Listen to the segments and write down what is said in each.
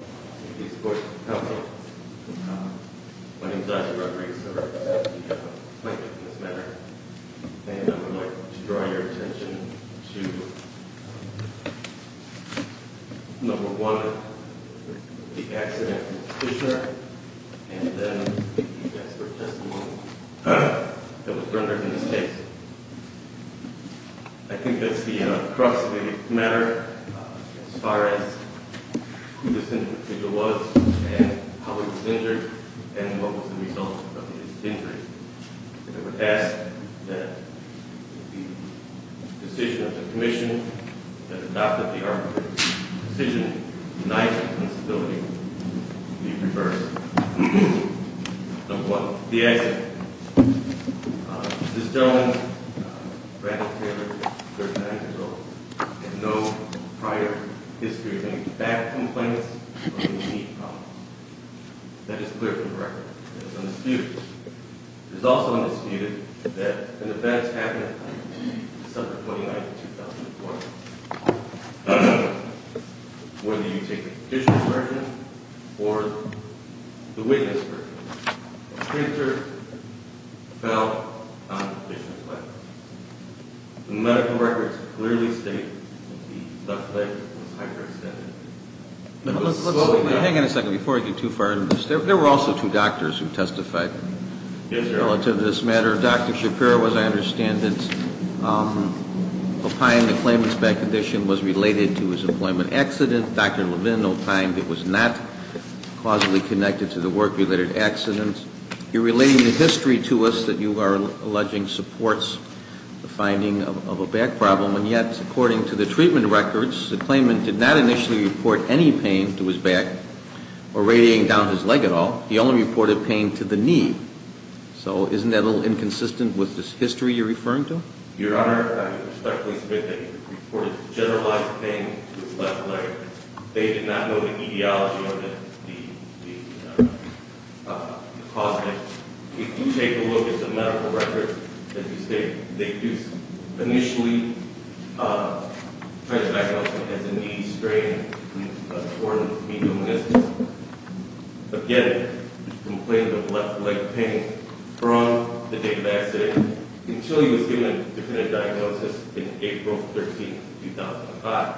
I would like to draw your attention to, number one, the accident with Fisher, and then the expert testimony that was rendered in this case. I think that's the crux of the matter as far as who this injured individual was and how he was injured and what was the result of his injury. I would ask that the decision of the commission that adopted the arbitrary decision to deny him the responsibility be reversed. Number one, the accident. This gentleman, Randall Taylor, 39 years old, had no prior history of having back complaints or any knee problems. That is clear from the record. It is undisputed. It is also undisputed that an event happened on December 29, 2014. Whether you take the petitioner's version or the witness' version, the printer fell on the petitioner's leg. The medical records clearly state that the left leg was hyperextended. Hang on a second before I get too far into this. There were also two doctors who testified relative to this matter. Dr. Shapiro, as I understand it, opined the claimant's back condition was related to his employment accident. Dr. Levin opined it was not causally connected to the work-related accident. You're relating the history to us that you are alleging supports the finding of a back problem. And yet, according to the treatment records, the claimant did not initially report any pain to his back or radiating down his leg at all. He only reported pain to the knee. So isn't that a little inconsistent with this history you're referring to? Your Honor, I respectfully submit that he reported generalized pain to his left leg. They did not know the etiology of the cause of it. If you take a look at the medical records, as you state, they do initially try to diagnose him as a knee strain. Again, he complained of left leg pain from the date of the accident until he was given a definitive diagnosis in April 13, 2005.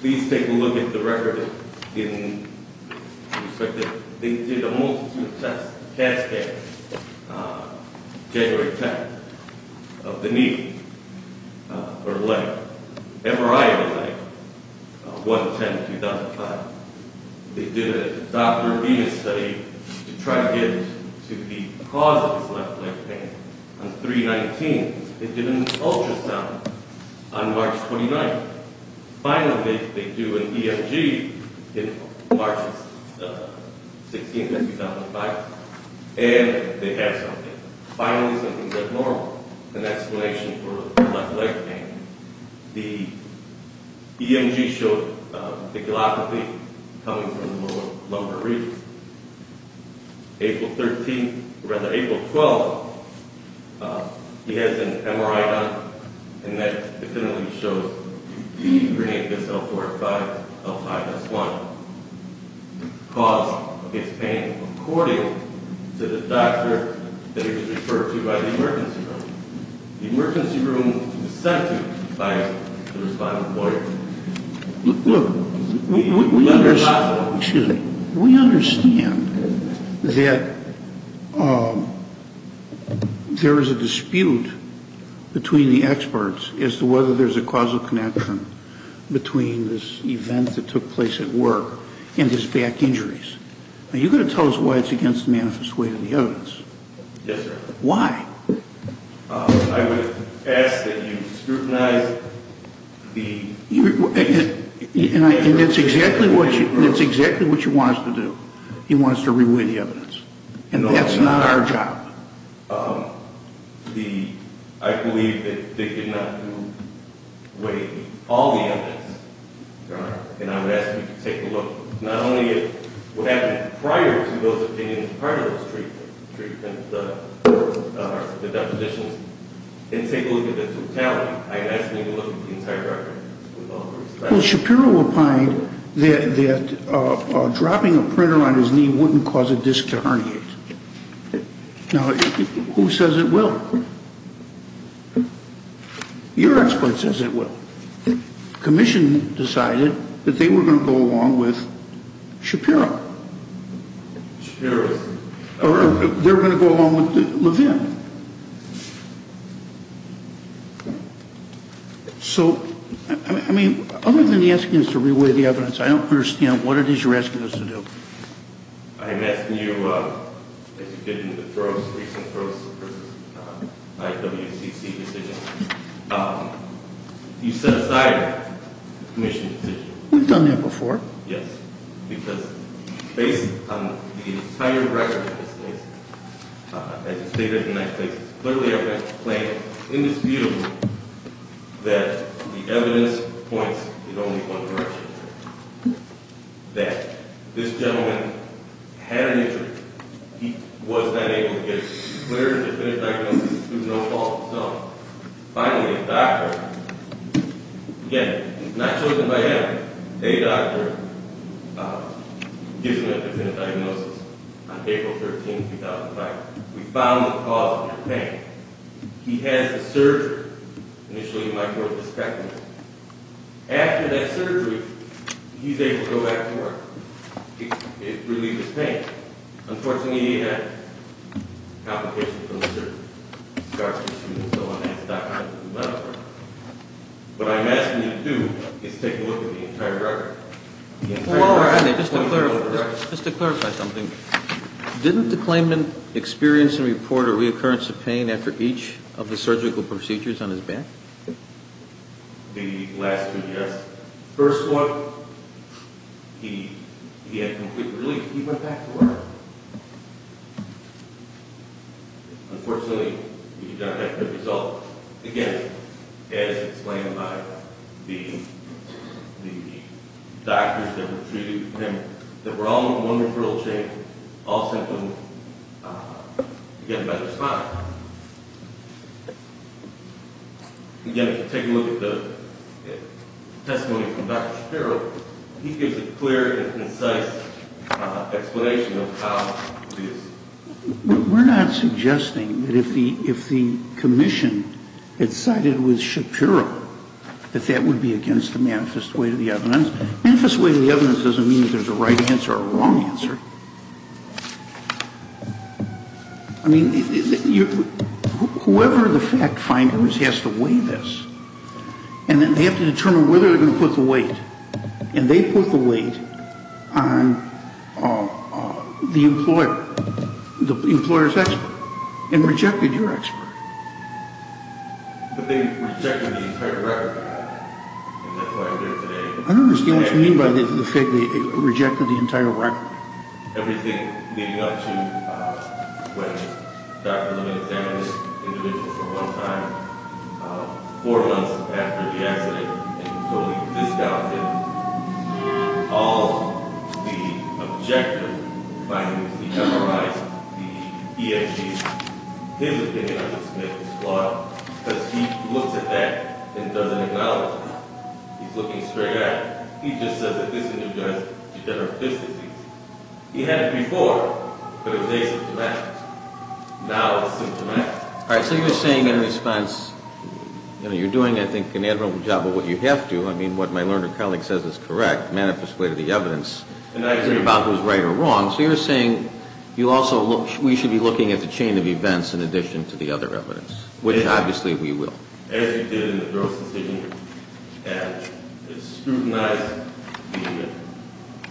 Please take a look at the record. They did a multitude of tests, CAT scans, January 10th of the knee or leg, MRI of the leg, 1-10-2005. They did a Dr. Venus study to try to get to the cause of his left leg pain on 3-19. They did an ultrasound on March 29th. Finally, they do an EMG on March 16th, 2005, and they have something. Finally, something is abnormal. An explanation for left leg pain. The EMG showed the callopathy coming from the lower regions. April 13th, or rather, April 12th, he has an MRI done, and that definitively shows the grenape L45, L5S1. The cause of his pain according to the doctor that he was referred to by the emergency room. The emergency room was sent to by a respondent lawyer. Look, we understand that there is a dispute between the experts as to whether there is a causal connection between this event that took place at work and his back injuries. Are you going to tell us why it's against the manifest way to the evidence? Yes, sir. Why? I would ask that you scrutinize the evidence. And that's exactly what you want us to do. You want us to re-weigh the evidence. And that's not our job. I believe that they did not re-weigh all the evidence. And I would ask you to take a look, not only at what happened prior to those opinions, prior to those treatments, the depositions, and take a look at the totality. I'd ask you to look at the entire record with all due respect. Shapiro opined that dropping a printer on his knee wouldn't cause a disc to herniate. Now, who says it will? Your expert says it will. The commission decided that they were going to go along with Shapiro. Shapiro is? They were going to go along with Levin. So, I mean, other than asking us to re-weigh the evidence, I don't understand what it is you're asking us to do. I am asking you, as you did in the recent Throes v. IWCC decision, you set aside the commission's decision. We've done that before. Yes. Because based on the entire record of this case, as it stated in that case, it's clearly evident, plain and indisputable that the evidence points in only one direction. That this gentleman had an injury. He was not able to get a clear, definitive diagnosis. It was no fault of his own. Finally, the doctor, again, he's not chosen by evidence. A doctor gives him a definitive diagnosis on April 13, 2005. We found the cause of the pain. He has the surgery. Initially, you might think it was a spectrum. After that surgery, he's able to go back to work. It relieves his pain. Unfortunately, he had complications from the surgery. What I'm asking you to do is take a look at the entire record. Just to clarify something, didn't the claimant experience and report a reoccurrence of pain after each of the surgical procedures on his back? The last two, yes. First one, he had complete relief. He went back to work. Unfortunately, we did not have a good result. Again, as explained by the doctors that were treating him, there were only one referral chain, all symptoms, again, by the spine. Again, if you take a look at the testimony from Dr. Shapiro, he gives a clear and concise explanation of how it is. We're not suggesting that if the commission had sided with Shapiro, that that would be against the manifest way to the evidence. Manifest way to the evidence doesn't mean that there's a right answer or a wrong answer. I mean, whoever the fact finder is has to weigh this. And then they have to determine whether they're going to put the weight. And they put the weight on the employer, the employer's expert, and rejected your expert. But they rejected the entire record. I don't understand what you mean by the fact that they rejected the entire record. Everything leading up to when Dr. Levin examined this individual for one time, four months after the accident, and totally discounted all the objective findings, the MRIs, the EMTs. His opinion, I just make this plot, because he looks at that and doesn't acknowledge it. He's looking straight at it. He just says that this individual has degenerative fist disease. He had it before, but it was asymptomatic. Now it's symptomatic. All right. So you're saying in response, you know, you're doing, I think, an admirable job of what you have to. I mean, what my learned colleague says is correct. Manifest way to the evidence is about who's right or wrong. So you're saying you also look, we should be looking at the chain of events in addition to the other evidence, which obviously we will. As you did in the gross decision and scrutinized the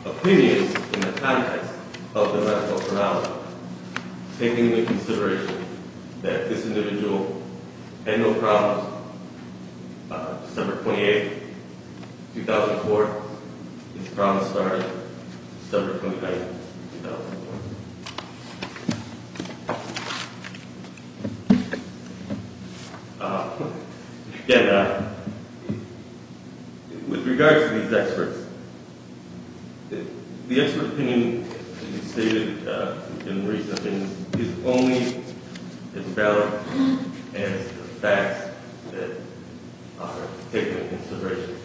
opinions in the context of the medical terminology, taking into consideration that this individual had no problems December 28, 2004. This problem started December 29, 2004. And with regards to these experts, the expert opinion that you stated in recent meetings is only as valid as the facts that are taken into consideration.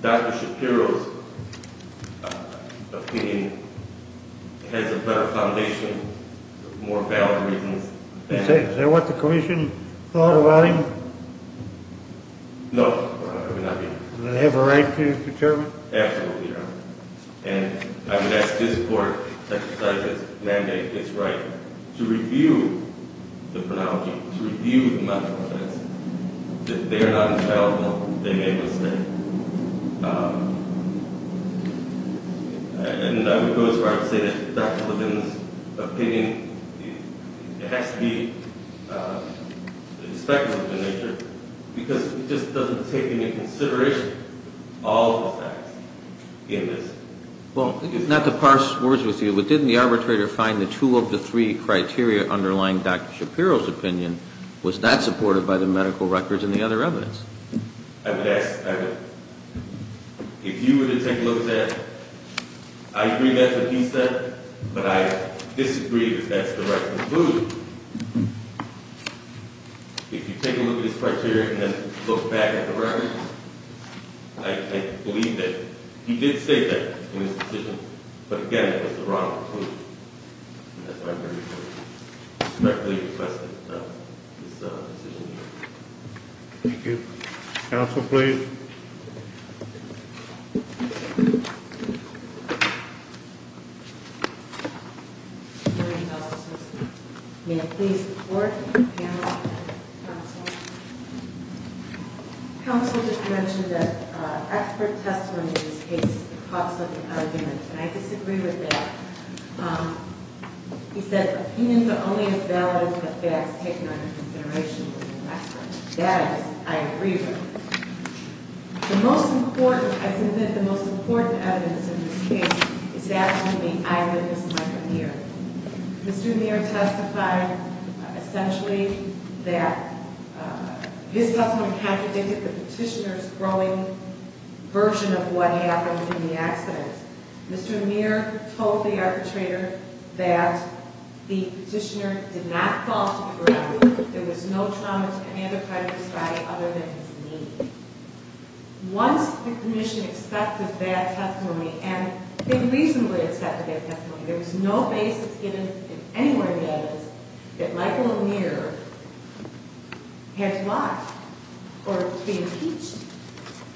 Dr. Shapiro's opinion has a better foundation, more valid reasons. Is that what the commission thought about him? No, it would not be. Does it have a right to determine? Absolutely, Your Honor. And I would ask this court to mandate its right to review the phrenology, to review the medical evidence. If they are not infallible, they may go to state. And I would go as far as to say that Dr. Levin's opinion, it has to be expected of the nature, because it just doesn't take into consideration all the facts in this. Well, not to parse words with you, but didn't the arbitrator find the two of the three criteria underlying Dr. Shapiro's opinion was not supported by the medical records and the other evidence? If you were to take a look at it, I agree that's what he said, but I disagree that that's the right conclusion. If you take a look at his criteria and then look back at the records, I believe that he did say that in his decision, but again, that was the wrong conclusion. And that's why I respectfully request that this decision be made. Thank you. Counsel, please. May I please report to the panel? Counsel just mentioned that expert testimony in this case is the cause of the argument, and I disagree with that. He said opinions are only as valid as the facts taken under consideration. That I agree with. The most important, I think that the most important evidence in this case is that of the eyewitness, Mike Amir. Mr. Amir testified essentially that his testimony contradicted the petitioner's growing version of what happened in the accident. Mr. Amir told the arbitrator that the petitioner did not fall to the ground, there was no trauma to any other part of his body other than his knee. Once the commission accepted that testimony, and they reasonably accepted that testimony, there was no basis given in any of the evidence that Michael Amir had lied or been impeached.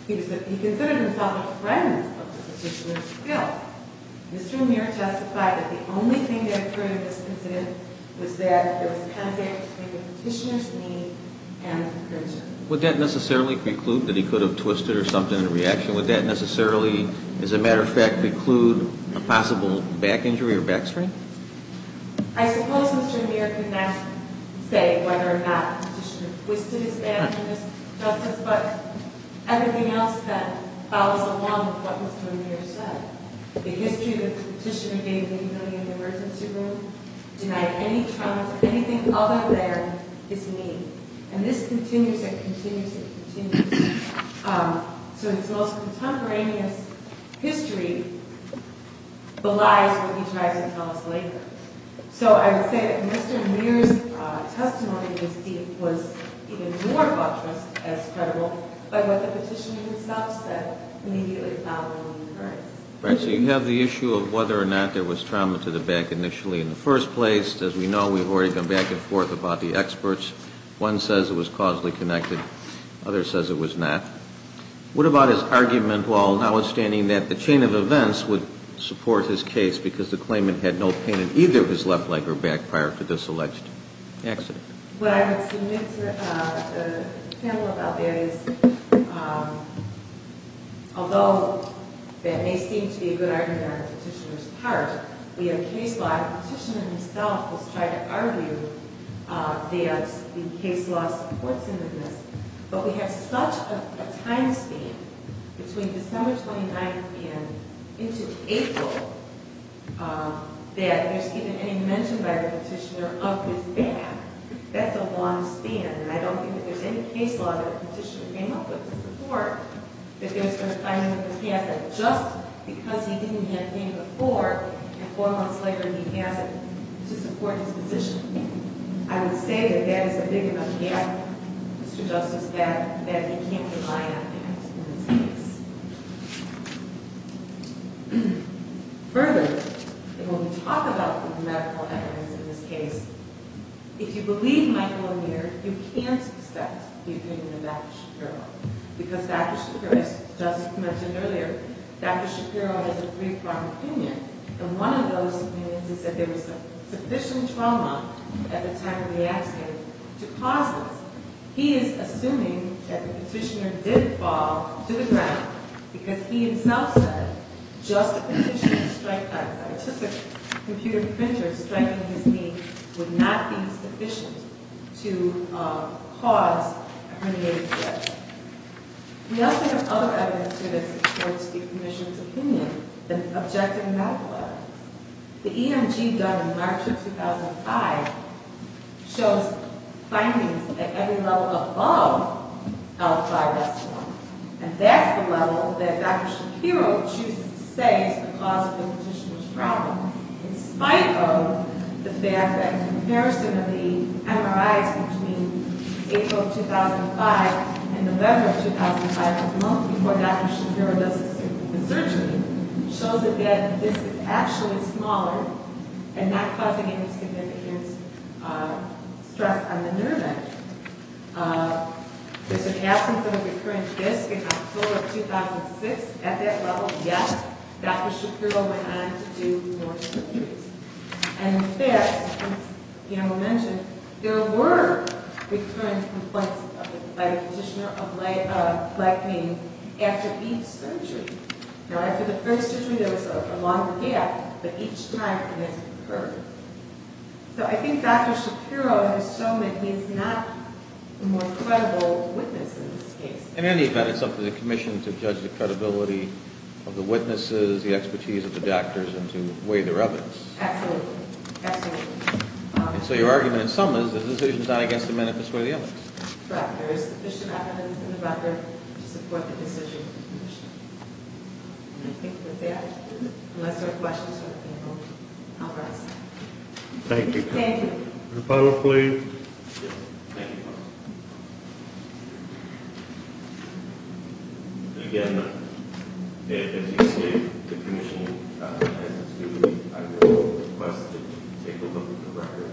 He considered himself a friend of the petitioner's guilt. Mr. Amir testified that the only thing that occurred in this incident was that there was a contact between the petitioner's knee and the commission. Would that necessarily preclude that he could have twisted or something in the reaction? Would that necessarily, as a matter of fact, preclude a possible back injury or back sprain? I suppose Mr. Amir could not say whether or not the petitioner twisted his stand on this justice, but everything else that follows along with what Mr. Amir said. The history that the petitioner gave me in the emergency room denied any trauma to anything other than his knee. And this continues and continues and continues. So his most contemporaneous history belies what he tries to tell us later. So I would say that Mr. Amir's testimony was even more thoughtless as credible by what the petitioner himself said immediately following the occurrence. Right, so you have the issue of whether or not there was trauma to the back initially in the first place. As we know, we've already gone back and forth about the experts. One says it was causally connected. Others says it was not. What about his argument while notwithstanding that the chain of events would support his case because the claimant had no pain in either his left leg or back prior to this alleged accident? What I would submit to the panel about that is, although that may seem to be a good argument on the petitioner's part, we have a case law, the petitioner himself has tried to argue that the case law supports him in this, but we have such a time span between December 29th and into April that there's even any mention by the petitioner of his back. That's a long span, and I don't think that there's any case law that the petitioner came up with to support that there was a time in the past that just because he didn't have pain before and four months later he has it to support his position. I would say that that is a big enough gap, Mr. Justice, that you can't rely on in this case. Further, and when we talk about the medical evidence in this case, if you believe Michael O'Neill, you can't accept the opinion of Dr. Shapiro because Dr. Shapiro, as Justice mentioned earlier, Dr. Shapiro has a three-pronged opinion, and one of those opinions is that there was sufficient trauma at the time of the accident to cause this. He is assuming that the petitioner did fall to the ground because he himself said, just a petitioner's strike by a scientific computer printer striking his knee would not be sufficient to cause a herniated disc. We also have other evidence here that supports the Commissioner's opinion, an objective medical evidence. The EMG done in March of 2005 shows findings at every level above L5-S1, and that's the level that Dr. Shapiro chooses to say is the cause of the petitioner's problem, in spite of the fact that comparison of the MRIs between April 2005 and November 2005, a month before Dr. Shapiro does the surgery, shows that this is actually smaller and not causing any significant stress on the nerve end. There's an absence of a recurrent disc in October of 2006. At that level, yes, Dr. Shapiro went on to do more surgeries. And in fact, as Guillermo mentioned, there were recurrent complaints by the petitioner of blackening after each surgery. Now, after the first surgery, there was a longer gap, but each time, this occurred. So I think Dr. Shapiro has shown that he's not a more credible witness in this case. In any event, it's up to the Commission to judge the credibility of the witnesses, the expertise of the doctors, and to weigh their evidence. Absolutely. Absolutely. And so your argument in sum is the decision's not against the men, it's for the evidence. Correct. There is sufficient evidence in the record to support the decision of the Commission. I think that's it. Unless there are questions from the people, I'll rise. Thank you. Thank you. Dr. Palma, please. Thank you, Dr. Palma. Again, as you say, the Commission has agreed, I will request that you take a look at the record.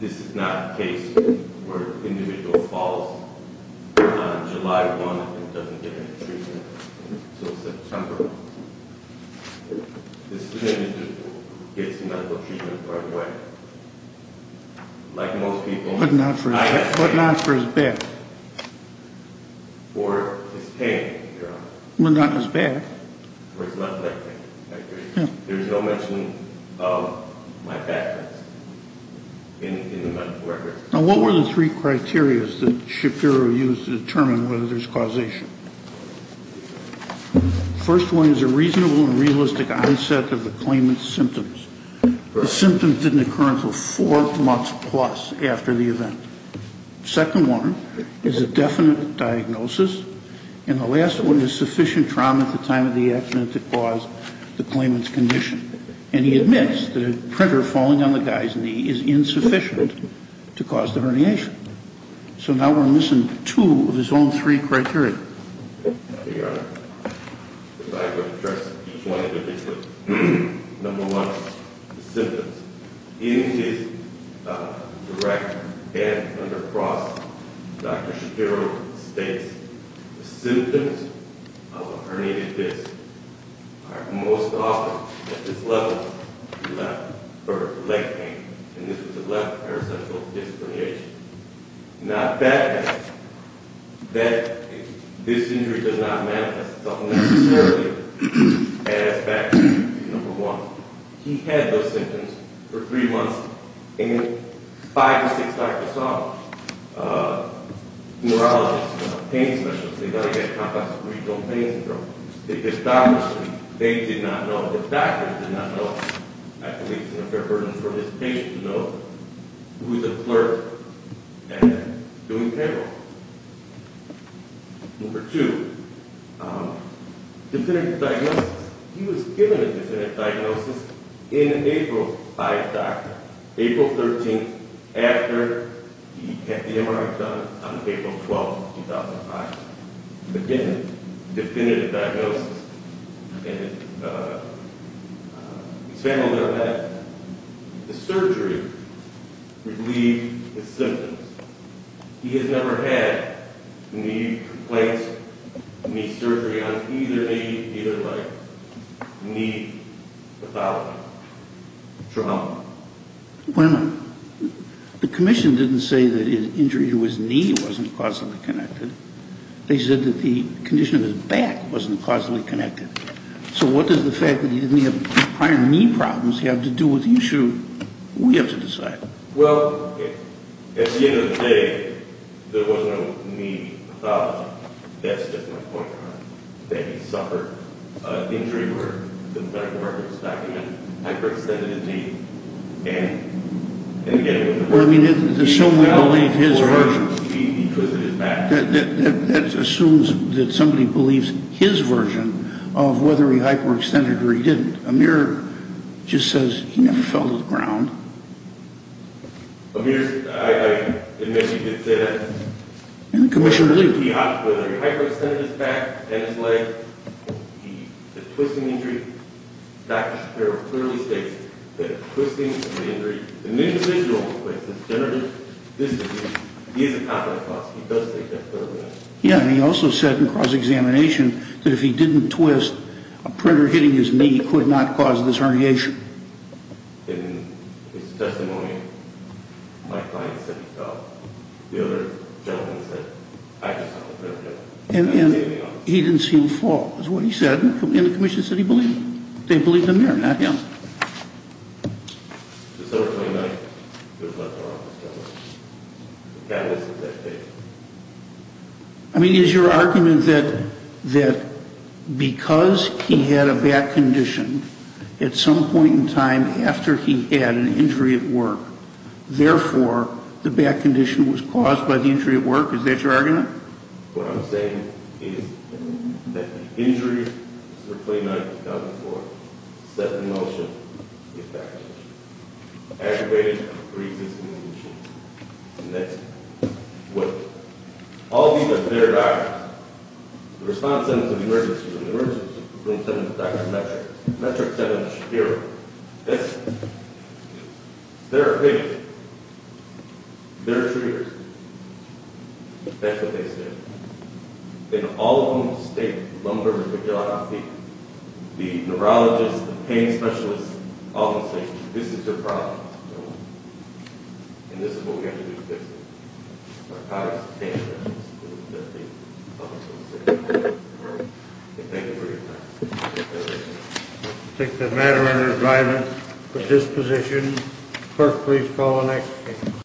This is not a case where an individual falls on July 1 and doesn't get any treatment until September. This is an individual who gets medical treatment right away. Like most people, I have pain. But not for his back. Or his pain, your honor. Well, not his back. Or his left leg pain. There's no mention of my back in the medical record. Now, what were the three criterias that Shapiro used to determine whether there's causation? First one is a reasonable and realistic onset of the claimant's symptoms. The symptoms didn't occur until four months plus after the event. Second one is a definite diagnosis. And the last one is sufficient trauma at the time of the accident to cause the claimant's condition. And he admits that a printer falling on the guy's knee is insufficient to cause the herniation. So now we're missing two of his own three criteria. Your honor, if I could address each one individually. Number one, the symptoms. In his direct and under process, Dr. Shapiro states the symptoms of a herniated disc are most often at this level. The left leg pain. And this was a left paracentral disc herniation. Not back pain. This injury does not manifest itself necessarily as back pain. Number one. He had those symptoms for three months. And five to six doctors saw him. Neurologists, pain specialists, they got him at Compass Regional Pain Syndrome. They did not know. The doctor did not know. I think it's a fair burden for this patient to know who's a clerk and doing payroll. Number two. Definitive diagnosis. He was given a definitive diagnosis in April by his doctor. April 13th after he had the MRI done on April 12th, 2005. Again, definitive diagnosis. And his family will know that. The surgery relieved the symptoms. He has never had knee complaints, knee surgery on either knee, either leg. Knee pathology. Trauma. Wait a minute. The commission didn't say that his injury to his knee wasn't causally connected. They said that the condition of his back wasn't causally connected. So what does the fact that he didn't have prior knee problems have to do with the issue? We have to decide. Well, at the end of the day, there was no knee pathology. That's just my point. He suffered an injury where the medical records document hyperextended his knee. Well, I mean, assume we believe his version. That assumes that somebody believes his version of whether he hyperextended or he didn't. Amir just says he never fell to the ground. Amir, I admit he did say that. And the commission believed it. Whether he hyperextended his back and his leg, the twisting injury, Dr. Shapiro clearly states that the twisting of the injury, the knee is a visual, but it's a generative disability. He is a pathologist. He does take that further than that. Yeah, and he also said in cross-examination that if he didn't twist, a printer hitting his knee could not cause this herniation. In his testimony, my client said he fell. The other gentleman said, I just saw the printer hit him. And he didn't see him fall is what he said. And the commission said he believed it. They believed Amir, not him. Just over 29, he was left in our office. I mean, is your argument that because he had a back condition, at some point in time after he had an injury at work, therefore the back condition was caused by the injury at work? Is that your argument? What I'm saying is that the injury, Mr. Clayton, I've done before, set in motion the back condition. Aggravated and pre-existing condition. And that's what all these are their documents. The response sentence of the emergency room, the emergency room sentence of Dr. Metrick, Metrick sentenced Shapiro. That's their opinion. They're treaters. That's what they said. And all of them state, lumber, the neurologist, the pain specialist, all of them say, this is your problem. And this is what we have to do to fix it. Narcotics, pain meds. And thank you for your time. Thank you. I take the matter under advisement for disposition. Clerk, please call the next case.